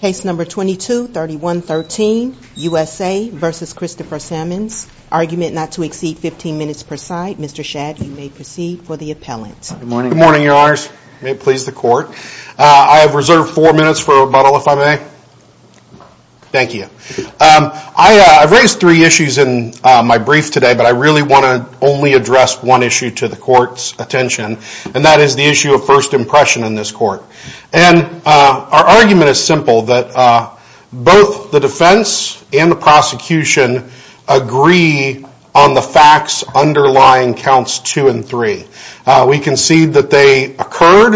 Case number 22-3113, USA v. Christopher Sammons. Argument not to exceed 15 minutes per side. Mr. Shad, you may proceed for the appellant. Good morning, your honors. May it please the court. I have reserved four minutes for rebuttal, if I may. Thank you. I've raised three issues in my brief today, but I really want to only address one issue to the court's attention, and that is the issue of first impression in this court. Our argument is simple, that both the defense and the prosecution agree on the facts underlying counts 2 and 3. We concede that they occurred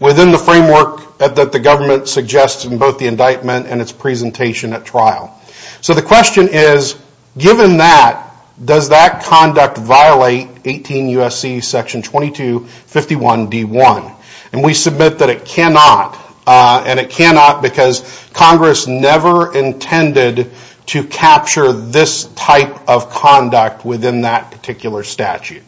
within the framework that the government suggested in both the indictment and its presentation at trial. So the question is, given that, does that conduct violate 18 U.S.C. section 2251 D.1? And we submit that it cannot, and it cannot because Congress never intended to capture this type of conduct within that particular statute.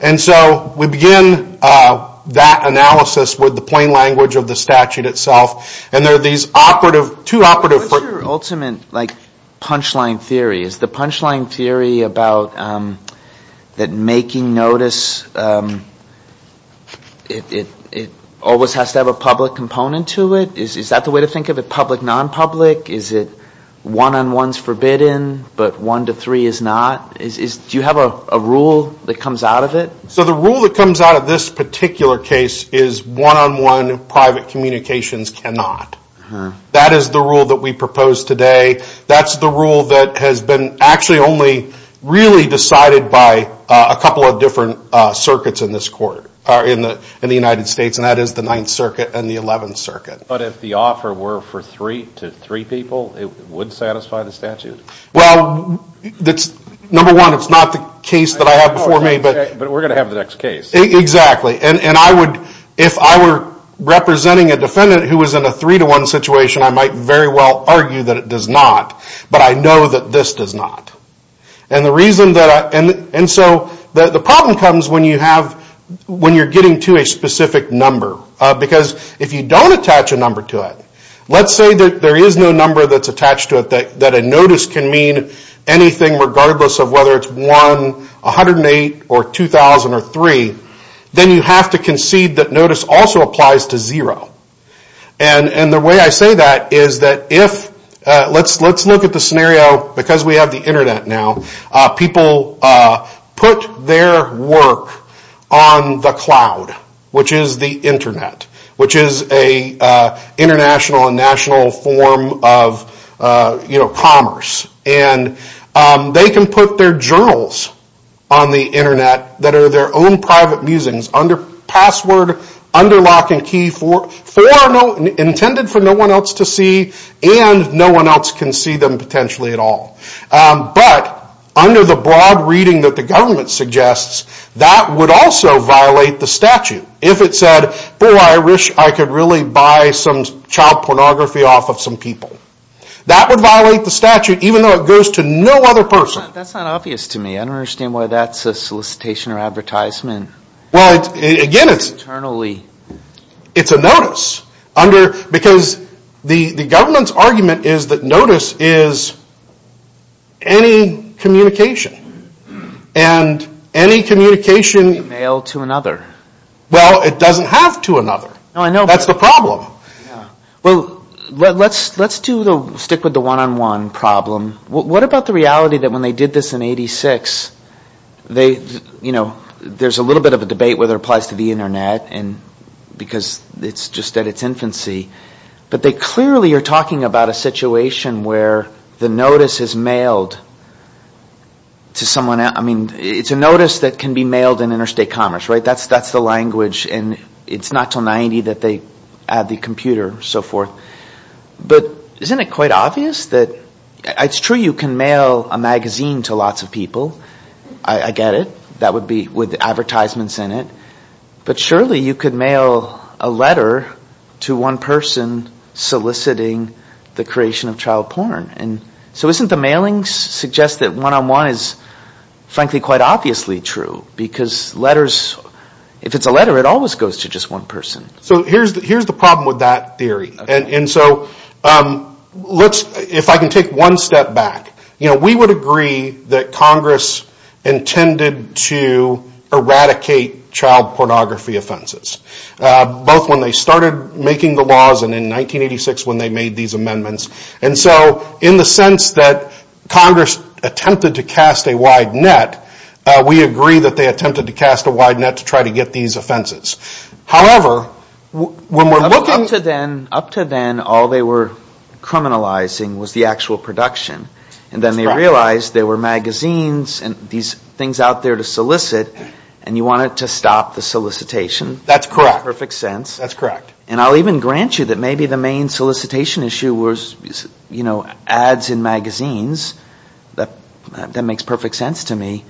And so we begin that analysis with the plain language of the statute itself, and there are these operative, two operative... What's your ultimate, like, punchline theory? Is the punchline theory about that making notice, it always has to have a public component to it? Is that the way to think of it, public, non-public? Is it one-on-one's forbidden, but one to three is not? Do you have a rule that comes out of it? So the rule that comes out of this particular case is one-on-one private communications cannot. That is the rule that we propose today. That's the rule that has been actually only really decided by a couple of different circuits in this court, in the United States, and that is the Ninth Circuit and the Eleventh Circuit. But if the offer were for three to three people, it would satisfy the statute? Well, number one, it's not the case that I have before me, but... But we're going to have the next case. Exactly. And I would, if I were representing a defendant who was in a three-to-one situation, I might very well argue that it does not, but I know that this does not. And so the problem comes when you're getting to a specific number. Because if you don't attach a number to it, let's say that there is no number that's attached to it that a notice can mean anything regardless of whether it's one, 108, or 2,000, or three, then you have to concede that notice also applies to zero. And the way I say that is that if... Let's look at the scenario because we have the Internet now. People put their work on the cloud, which is the Internet, which is an international and national form of commerce. And they can put their journals on the Internet that are their own private musings, under password, under lock and key, intended for no one else to see, and no one else can see them potentially at all. But under the broad reading that the government suggests, that would also violate the statute. If it said, boy, I wish I could really buy some child pornography off of some people. That would violate the statute even though it goes to no other person. That's not obvious to me. I don't understand why that's a solicitation or advertisement. Well, again, it's a notice. Because the government's argument is that notice is any communication. And any communication... Mail to another. That's the problem. Well, let's stick with the one-on-one problem. What about the reality that when they did this in 86, there's a little bit of a debate whether it applies to the Internet because it's just at its infancy. But they clearly are talking about a situation where the notice is mailed to someone else. I mean, it's a notice that can be mailed in interstate commerce, right? That's the language. And it's not until 90 that they add the computer and so forth. But isn't it quite obvious that... It's true you can mail a magazine to lots of people. I get it. That would be with advertisements in it. But surely you could mail a letter to one person soliciting the creation of child porn. So isn't the mailing suggest that one-on-one is frankly quite obviously true? Because letters... If it's a letter, it always goes to just one person. So here's the problem with that theory. And so, if I can take one step back. We would agree that Congress intended to eradicate child pornography offenses. Both when they started making the laws and in 1986 when they made these amendments. And so, in the sense that Congress attempted to cast a wide net, we agree that they attempted to cast a wide net to try to get these offenses. However, when we're looking... Up to then, all they were criminalizing was the actual production. And then they realized there were magazines and these things out there to solicit. And you wanted to stop the solicitation. That's correct. In the perfect sense. That's correct. And I'll even grant you that maybe the main solicitation issue was ads in magazines. That makes perfect sense to me.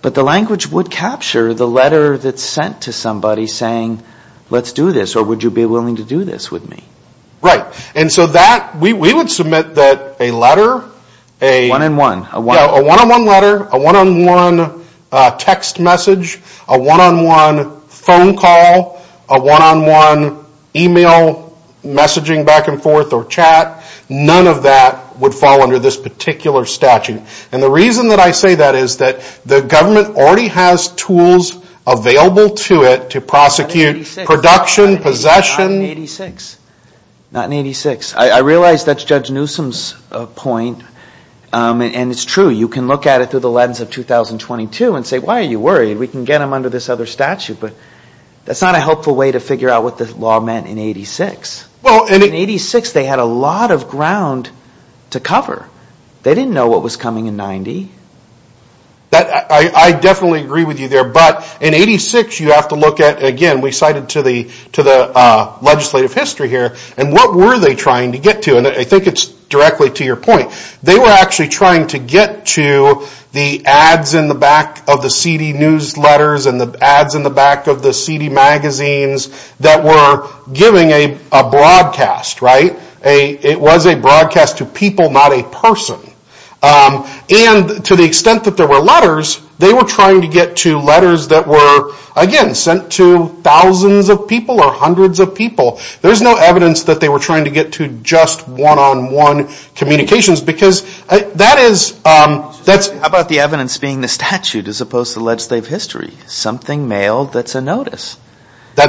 But the language would capture the letter that's sent to somebody saying, let's do this, or would you be willing to do this with me? Right. And so that... We would submit that a letter... One-on-one. A one-on-one letter, a one-on-one text message, a one-on-one phone call, a one-on-one email messaging back and forth or chat, none of that would fall under this particular statute. And the reason that I say that is that the government already has tools available to it to prosecute production, possession... Not in 86. Not in 86. I realize that's Judge Newsom's point, and it's true. You can look at it through the lens of 2022 and say, why are you worried? We can get them under this other statute. But that's not a helpful way to figure out what the law meant in 86. In 86, they had a lot of ground to cover. They didn't know what was coming in 90. I definitely agree with you there. But in 86, you have to look at, again, we cited to the legislative history here, and what were they trying to get to? And I think it's directly to your point. They were actually trying to get to the ads in the back of the seedy newsletters and the ads in the back of the seedy magazines that were giving a broadcast. It was a broadcast to people, not a person. And to the extent that there were letters, they were trying to get to letters that were, again, sent to thousands of people or hundreds of people. There's no evidence that they were trying to get to just one-on-one communications because that is... How about the evidence being the statute as opposed to legislative history? Something mailed that's a notice.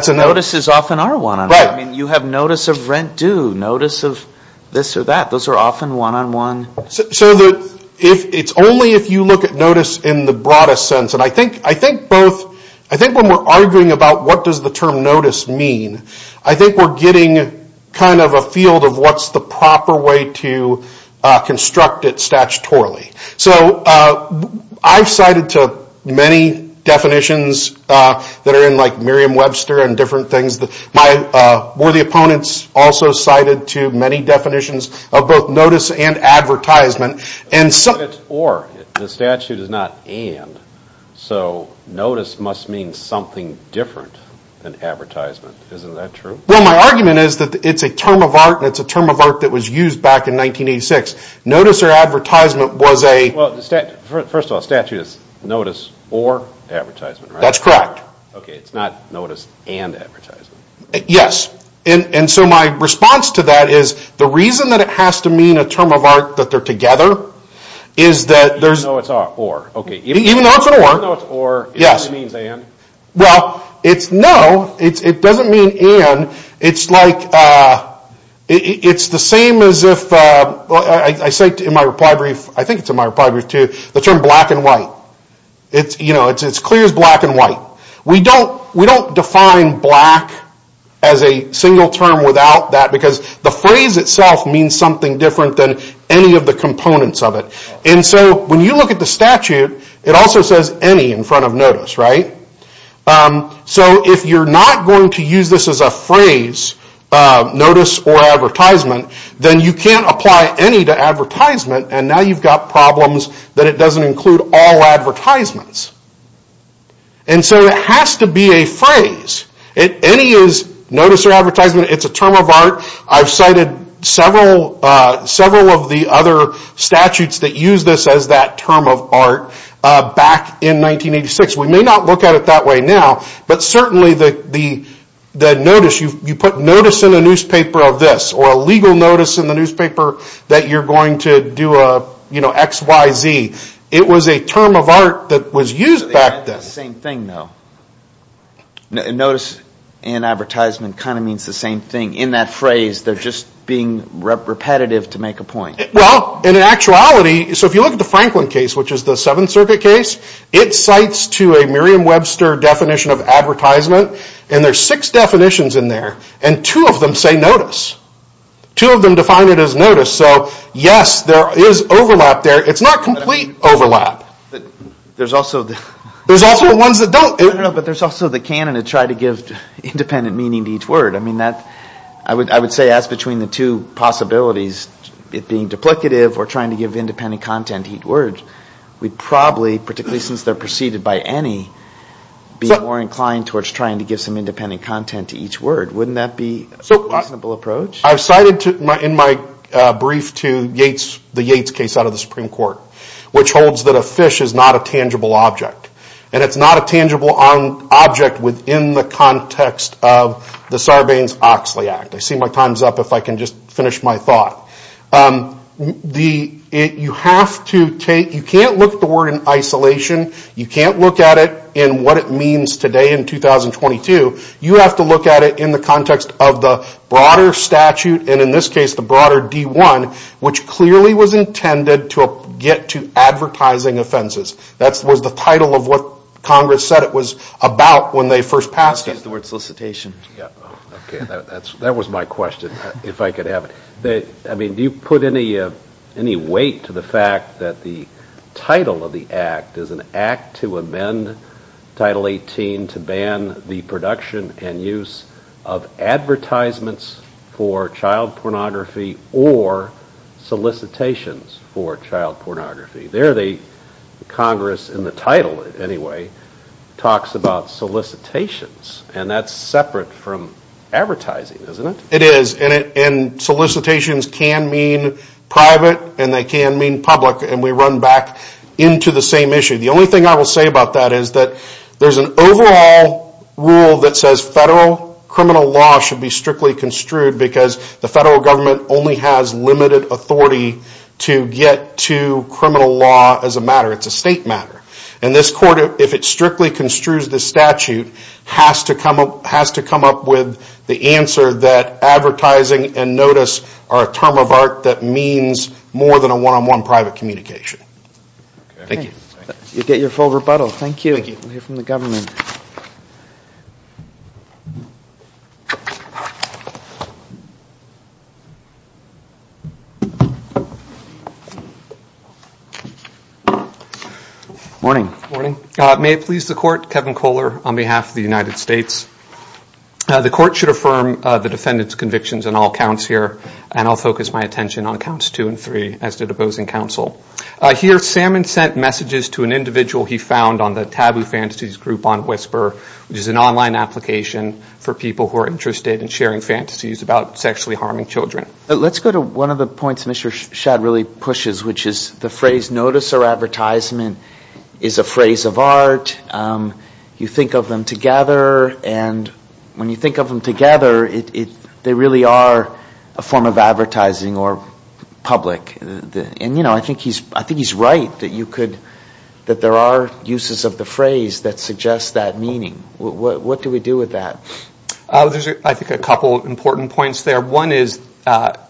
Notices often are one-on-one. You have notice of rent due, notice of this or that. Those are often one-on-one. It's only if you look at notice in the broadest sense. And I think when we're arguing about what does the term notice mean, I think we're getting a field of what's the proper way to construct it statutorily. So I've cited to many definitions that are in like Merriam-Webster and different things. My worthy opponents also cited to many definitions of both notice and advertisement. Or the statute is not and. So notice must mean something different than advertisement. Isn't that true? Well, my argument is that it's a term of art, and it's a term of art that was used back in 1986. Notice or advertisement was a... Well, first of all, the statute is notice or advertisement, right? That's correct. Okay, it's not notice and advertisement. Yes. And so my response to that is the reason that it has to mean a term of art that they're together is that there's... Even though it's an or. Even though it's an or. Even though it's an or, it only means and? Well, it's no. It doesn't mean and. It's the same as if... I cite in my reply brief. I think it's in my reply brief too. The term black and white. It's clear as black and white. We don't define black as a single term without that, because the phrase itself means something different than any of the components of it. And so when you look at the statute, it also says any in front of notice, right? So if you're not going to use this as a phrase, notice or advertisement, then you can't apply any to advertisement, and now you've got problems that it doesn't include all advertisements. And so it has to be a phrase. Any is notice or advertisement. It's a term of art. I've cited several of the other statutes that use this as that term of art back in 1986. We may not look at it that way now, but certainly the notice, you put notice in a newspaper of this, or a legal notice in the newspaper that you're going to do a X, Y, Z. It was a term of art that was used back then. It's the same thing though. Notice and advertisement kind of means the same thing. In that phrase, they're just being repetitive to make a point. Well, in actuality, so if you look at the Franklin case, which is the Seventh Circuit case, it cites to a Merriam-Webster definition of advertisement, and there's six definitions in there, and two of them say notice. Two of them define it as notice. So, yes, there is overlap there. It's not complete overlap. There's also ones that don't. But there's also the canon to try to give independent meaning to each word. I would say that's between the two possibilities, it being duplicative or trying to give independent content to each word. We'd probably, particularly since they're preceded by any, be more inclined towards trying to give some independent content to each word. Wouldn't that be a reasonable approach? I've cited in my brief to the Yates case out of the Supreme Court, which holds that a fish is not a tangible object. And it's not a tangible object within the context of the Sarbanes-Oxley Act. I see my time's up if I can just finish my thought. You can't look at the word in isolation. You can't look at it in what it means today in 2022. You have to look at it in the context of the broader statute, and in this case the broader D-1, which clearly was intended to get to advertising offenses. That was the title of what Congress said it was about when they first passed it. This is the word solicitation. That was my question, if I could have it. Do you put any weight to the fact that the title of the act is an act to amend Title 18 to ban the production and use of advertisements for child pornography or solicitations for child pornography? There the Congress, in the title anyway, talks about solicitations, and that's separate from advertising, isn't it? It is, and solicitations can mean private and they can mean public, and we run back into the same issue. The only thing I will say about that is that there's an overall rule that says federal criminal law should be strictly construed because the federal government only has limited authority to get to criminal law as a matter. It's a state matter. And this court, if it strictly construes the statute, has to come up with the answer that advertising and notice are a term of art that means more than a one-on-one private communication. Thank you. You get your full rebuttal. Thank you. We'll hear from the government. Morning. Morning. May it please the court, Kevin Kohler on behalf of the United States. The court should affirm the defendant's convictions on all counts here, and I'll focus my attention on counts two and three, as did opposing counsel. Here, Salmon sent messages to an individual he found on the taboo fantasies group on Whisper, which is an online application for people who are interested in sharing fantasies about sexually harming children. Let's go to one of the points Mr. Shadd really pushes, which is the phrase notice or advertisement is a phrase of art. You think of them together, and when you think of them together, they really are a form of advertising or public. And, you know, I think he's right that you could – that there are uses of the phrase that suggest that meaning. What do we do with that? There's, I think, a couple of important points there. One is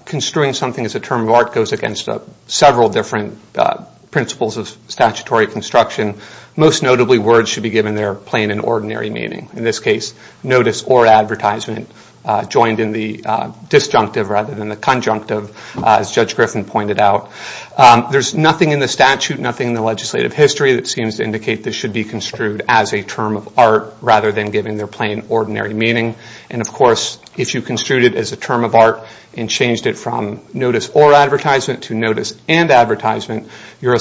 construing something as a term of art goes against several different principles of statutory construction. Most notably, words should be given their plain and ordinary meaning. In this case, notice or advertisement joined in the disjunctive rather than the conjunctive, as Judge Griffin pointed out. There's nothing in the statute, nothing in the legislative history that seems to indicate this should be construed as a term of art rather than given their plain, ordinary meaning. And, of course, if you construed it as a term of art and changed it from notice or advertisement to notice and advertisement, you're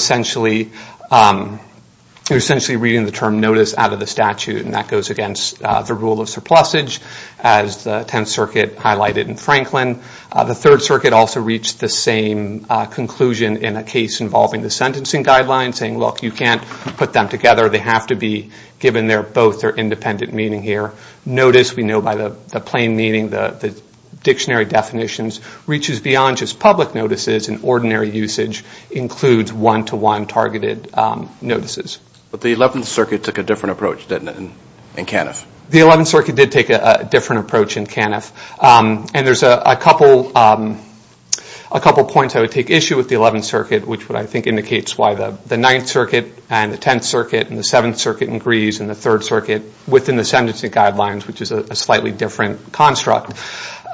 essentially reading the term notice out of the statute, and that goes against the rule of surplusage, as the Tenth Circuit highlighted in Franklin. The Third Circuit also reached the same conclusion in a case involving the sentencing guidelines, saying, look, you can't put them together. They have to be given both their independent meaning here. Notice, we know by the plain meaning, the dictionary definitions, reaches beyond just public notices and ordinary usage includes one-to-one targeted notices. But the Eleventh Circuit took a different approach, didn't it, in Caniff? The Eleventh Circuit did take a different approach in Caniff. And there's a couple points I would take issue with the Eleventh Circuit, which I think indicates why the Ninth Circuit and the Tenth Circuit and the Seventh Circuit and Grise and the Third Circuit within the sentencing guidelines, which is a slightly different construct.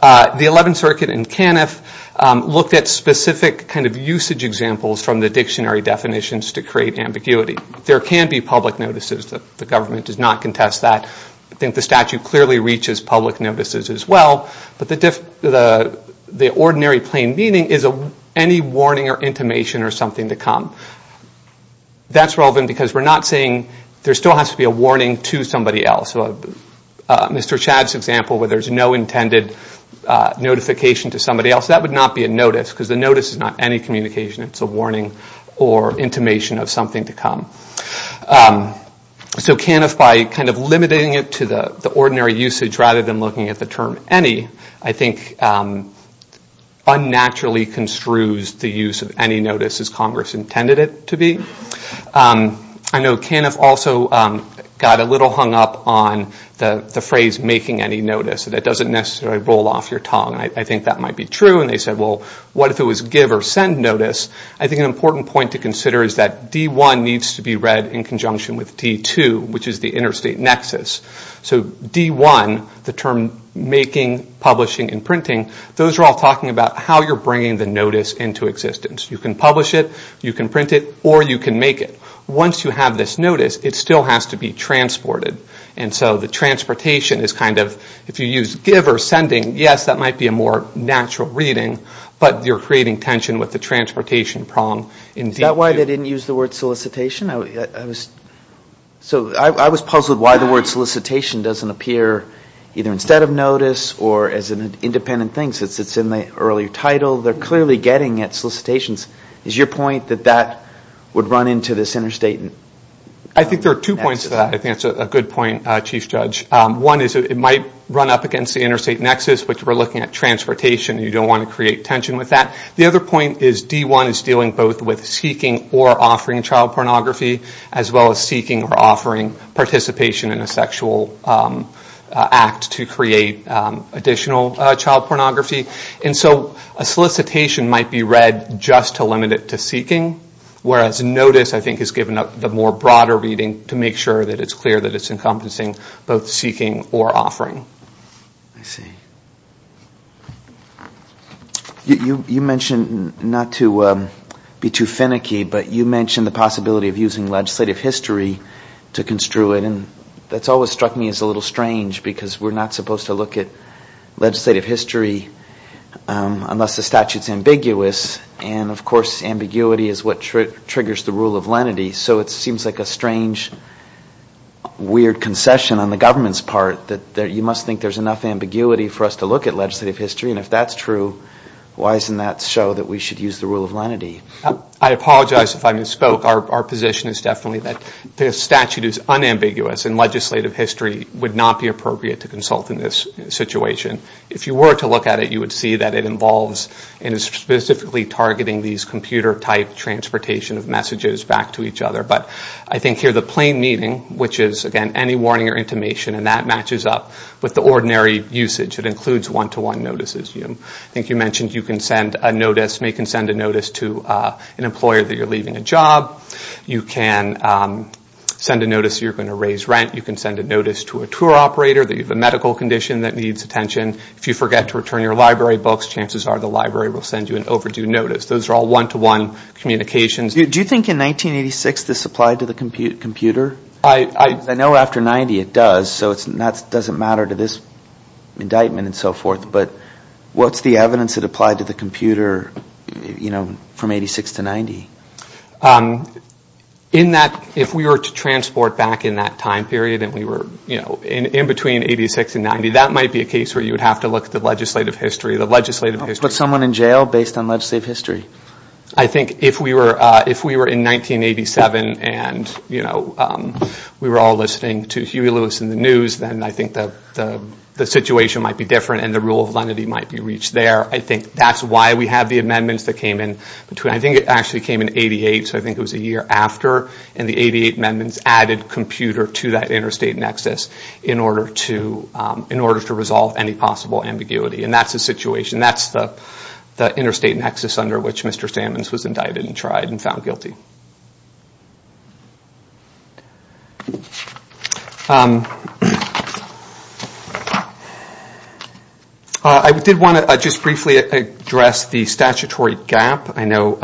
The Eleventh Circuit in Caniff looked at specific kind of usage examples from the dictionary definitions to create ambiguity. There can be public notices. The government does not contest that. I think the statute clearly reaches public notices as well. But the ordinary plain meaning is any warning or intimation or something to come. That's relevant because we're not saying there still has to be a warning to somebody else. Mr. Chad's example where there's no intended notification to somebody else, that would not be a notice because the notice is not any communication. It's a warning or intimation of something to come. So Caniff, by kind of limiting it to the ordinary usage rather than looking at the term any, I think unnaturally construes the use of any notice as Congress intended it to be. I know Caniff also got a little hung up on the phrase making any notice. That doesn't necessarily roll off your tongue. I think that might be true. And they said, well, what if it was give or send notice? I think an important point to consider is that D1 needs to be read in conjunction with D2, which is the interstate nexus. So D1, the term making, publishing, and printing, those are all talking about how you're bringing the notice into existence. You can publish it, you can print it, or you can make it. Once you have this notice, it still has to be transported. And so the transportation is kind of, if you use give or sending, yes, that might be a more natural reading, but you're creating tension with the transportation prong in D2. Is that why they didn't use the word solicitation? So I was puzzled why the word solicitation doesn't appear either instead of notice or as an independent thing since it's in the earlier title. They're clearly getting at solicitations. Is your point that that would run into this interstate nexus? I think there are two points to that. I think that's a good point, Chief Judge. One is it might run up against the interstate nexus, which we're looking at transportation. You don't want to create tension with that. The other point is D1 is dealing both with seeking or offering child pornography as well as seeking or offering participation in a sexual act to create additional child pornography. And so a solicitation might be read just to limit it to seeking, whereas notice, I think, is given the more broader reading to make sure that it's clear that it's encompassing both seeking or offering. I see. You mentioned, not to be too finicky, but you mentioned the possibility of using legislative history to construe it. And that's always struck me as a little strange because we're not supposed to look at legislative history unless the statute's ambiguous. And, of course, ambiguity is what triggers the rule of lenity. So it seems like a strange, weird concession on the government's part that you must think there's enough ambiguity for us to look at legislative history. And if that's true, why doesn't that show that we should use the rule of lenity? I apologize if I misspoke. Our position is definitely that the statute is unambiguous and legislative history would not be appropriate to consult in this situation. If you were to look at it, you would see that it involves and is specifically targeting these computer-type transportation of messages back to each other. But I think here the plain meaning, which is, again, any warning or intimation, and that matches up with the ordinary usage. It includes one-to-one notices. I think you mentioned you can make and send a notice to an employer that you're leaving a job. You can send a notice that you're going to raise rent. You can send a notice to a tour operator that you have a medical condition that needs attention. If you forget to return your library books, chances are the library will send you an overdue notice. Those are all one-to-one communications. Do you think in 1986 this applied to the computer? I know after 1990 it does, so it doesn't matter to this indictment and so forth. But what's the evidence that applied to the computer from 1986 to 1990? If we were to transport back in that time period and we were in between 1986 and 1990, that might be a case where you would have to look at the legislative history. But someone in jail based on legislative history? I think if we were in 1987 and we were all listening to Huey Lewis and the news, then I think the situation might be different and the rule of lenity might be reached there. I think that's why we have the amendments that came in. I think it actually came in 1988, so I think it was a year after, and the 1988 amendments added computer to that interstate nexus in order to resolve any possible ambiguity. And that's the situation. That's the interstate nexus under which Mr. Sammons was indicted and tried and found guilty. I did want to just briefly address the statutory gap. I know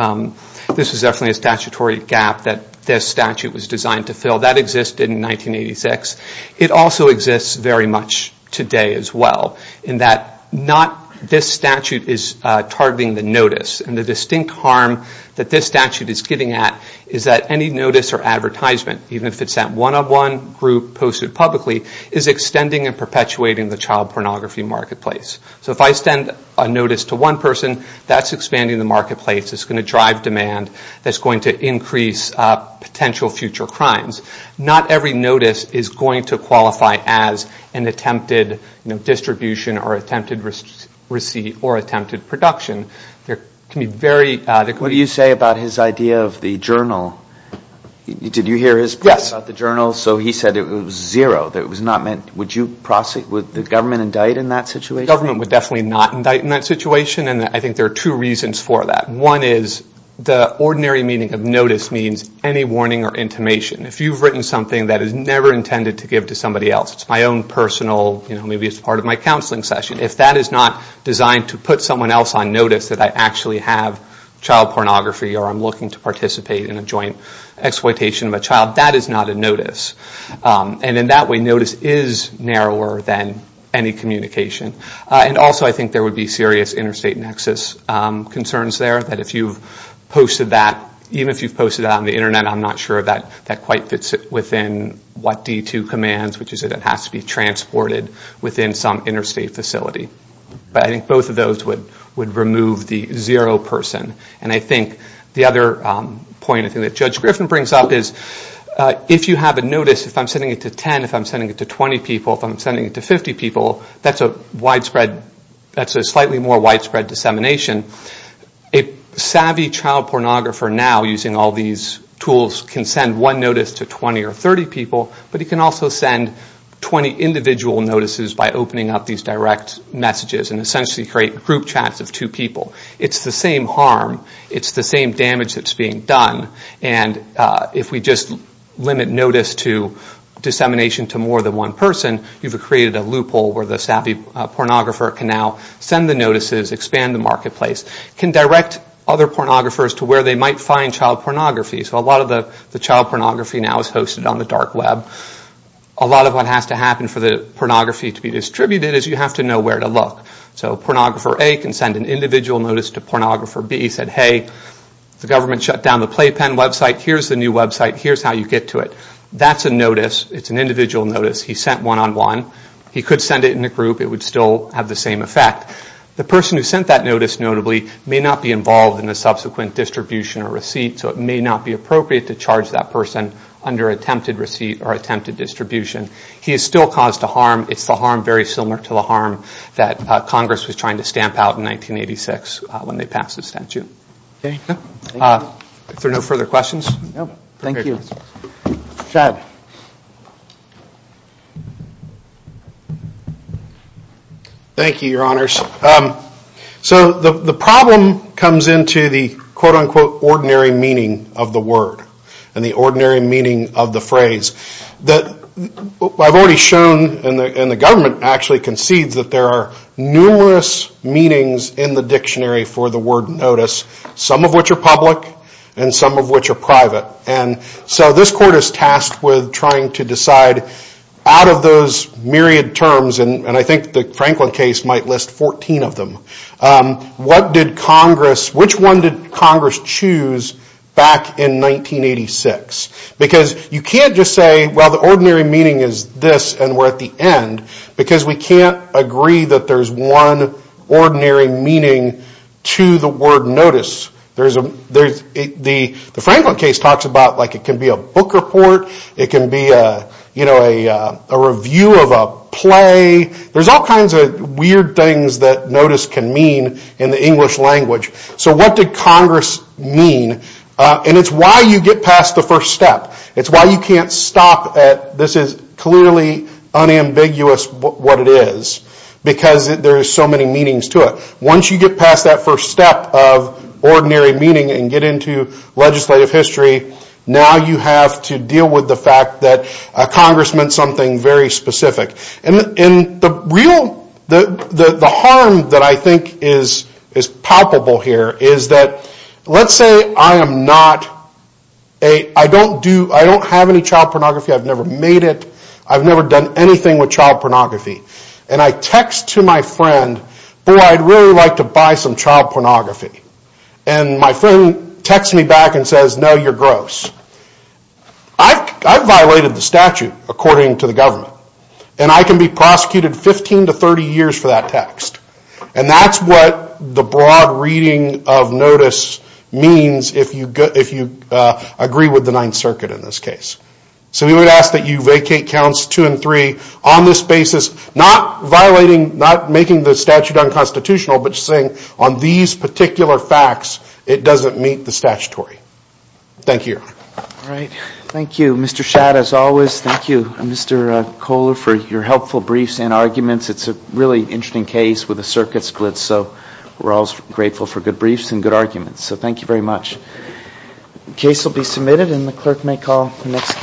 this is definitely a statutory gap that this statute was designed to fill. That existed in 1986. It also exists very much today as well in that not this statute is targeting the notice. And the distinct harm that this statute is getting at is that any notice or advertisement, even if it's that one-on-one group posted publicly, is extending and perpetuating the child pornography marketplace. So if I send a notice to one person, that's expanding the marketplace. It's going to drive demand. That's going to increase potential future crimes. Not every notice is going to qualify as an attempted distribution or attempted receipt or attempted production. There can be very adequate. What do you say about his idea of the journal? Did you hear his point about the journal? Yes. So he said it was zero, that it was not meant. Would the government indict in that situation? The government would definitely not indict in that situation, and I think there are two reasons for that. One is the ordinary meaning of notice means any warning or intimation. If you've written something that is never intended to give to somebody else, it's my own personal, maybe it's part of my counseling session, if that is not designed to put someone else on notice that I actually have child pornography or I'm looking to participate in a joint exploitation of a child, that is not a notice. And in that way, notice is narrower than any communication. And also I think there would be serious interstate nexus concerns there, that if you've posted that, even if you've posted it on the Internet, I'm not sure that that quite fits within what D2 commands, which is that it has to be transported within some interstate facility. But I think both of those would remove the zero person. And I think the other point that Judge Griffin brings up is if you have a notice, if I'm sending it to 10, if I'm sending it to 20 people, if I'm sending it to 50 people, that's a slightly more widespread dissemination. A savvy child pornographer now using all these tools can send one notice to 20 or 30 people, but he can also send 20 individual notices by opening up these direct messages and essentially create group chats of two people. It's the same harm. It's the same damage that's being done. And if we just limit notice to dissemination to more than one person, you've created a loophole where the savvy pornographer can now send the notices, expand the marketplace, can direct other pornographers to where they might find child pornography. So a lot of the child pornography now is hosted on the dark web. A lot of what has to happen for the pornography to be distributed is you have to know where to look. So pornographer A can send an individual notice to pornographer B. He said, hey, the government shut down the Playpen website. Here's the new website. Here's how you get to it. That's a notice. It's an individual notice. He sent one on one. He could send it in a group. It would still have the same effect. The person who sent that notice, notably, may not be involved in the subsequent distribution or receipt, so it may not be appropriate to charge that person under attempted receipt or attempted distribution. He is still cause to harm. It's the harm very similar to the harm that Congress was trying to stamp out in 1986 when they passed the statute. If there are no further questions. Thank you. Chad. Thank you, your honors. So the problem comes into the quote-unquote ordinary meaning of the word and the ordinary meaning of the phrase. I've already shown, and the government actually concedes, that there are numerous meanings in the dictionary for the word notice, some of which are public and some of which are private. So this court is tasked with determining out of those myriad terms, and I think the Franklin case might list 14 of them, which one did Congress choose back in 1986? Because you can't just say, well the ordinary meaning is this and we're at the end, because we can't agree that there's one ordinary meaning to the word notice. The Franklin case talks about it can be a book report, it can be a review of a play. There's all kinds of weird things that notice can mean in the English language. So what did Congress mean? And it's why you get past the first step. It's why you can't stop at this is clearly unambiguous what it is, because there's so many meanings to it. Once you get past that first step of ordinary meaning and get into legislative history, now you have to deal with the fact that Congress meant something very specific. And the harm that I think is palpable here is that, let's say I don't have any child pornography. I've never made it. I've never done anything with child pornography. And I text to my friend, boy I'd really like to buy some child pornography. And my friend texts me back and says, no, you're gross. I've violated the statute according to the government. And I can be prosecuted 15 to 30 years for that text. And that's what the broad reading of notice means if you agree with the Ninth Circuit in this case. So we would ask that you vacate counts two and three on this basis, not violating, not making the statute unconstitutional, but saying on these particular facts it doesn't meet the statutory. Thank you. All right. Thank you, Mr. Schatt, as always. Thank you, Mr. Kohler, for your helpful briefs and arguments. It's a really interesting case with a circuit split, so we're all grateful for good briefs and good arguments. So thank you very much. The case will be submitted and the clerk may call the next case.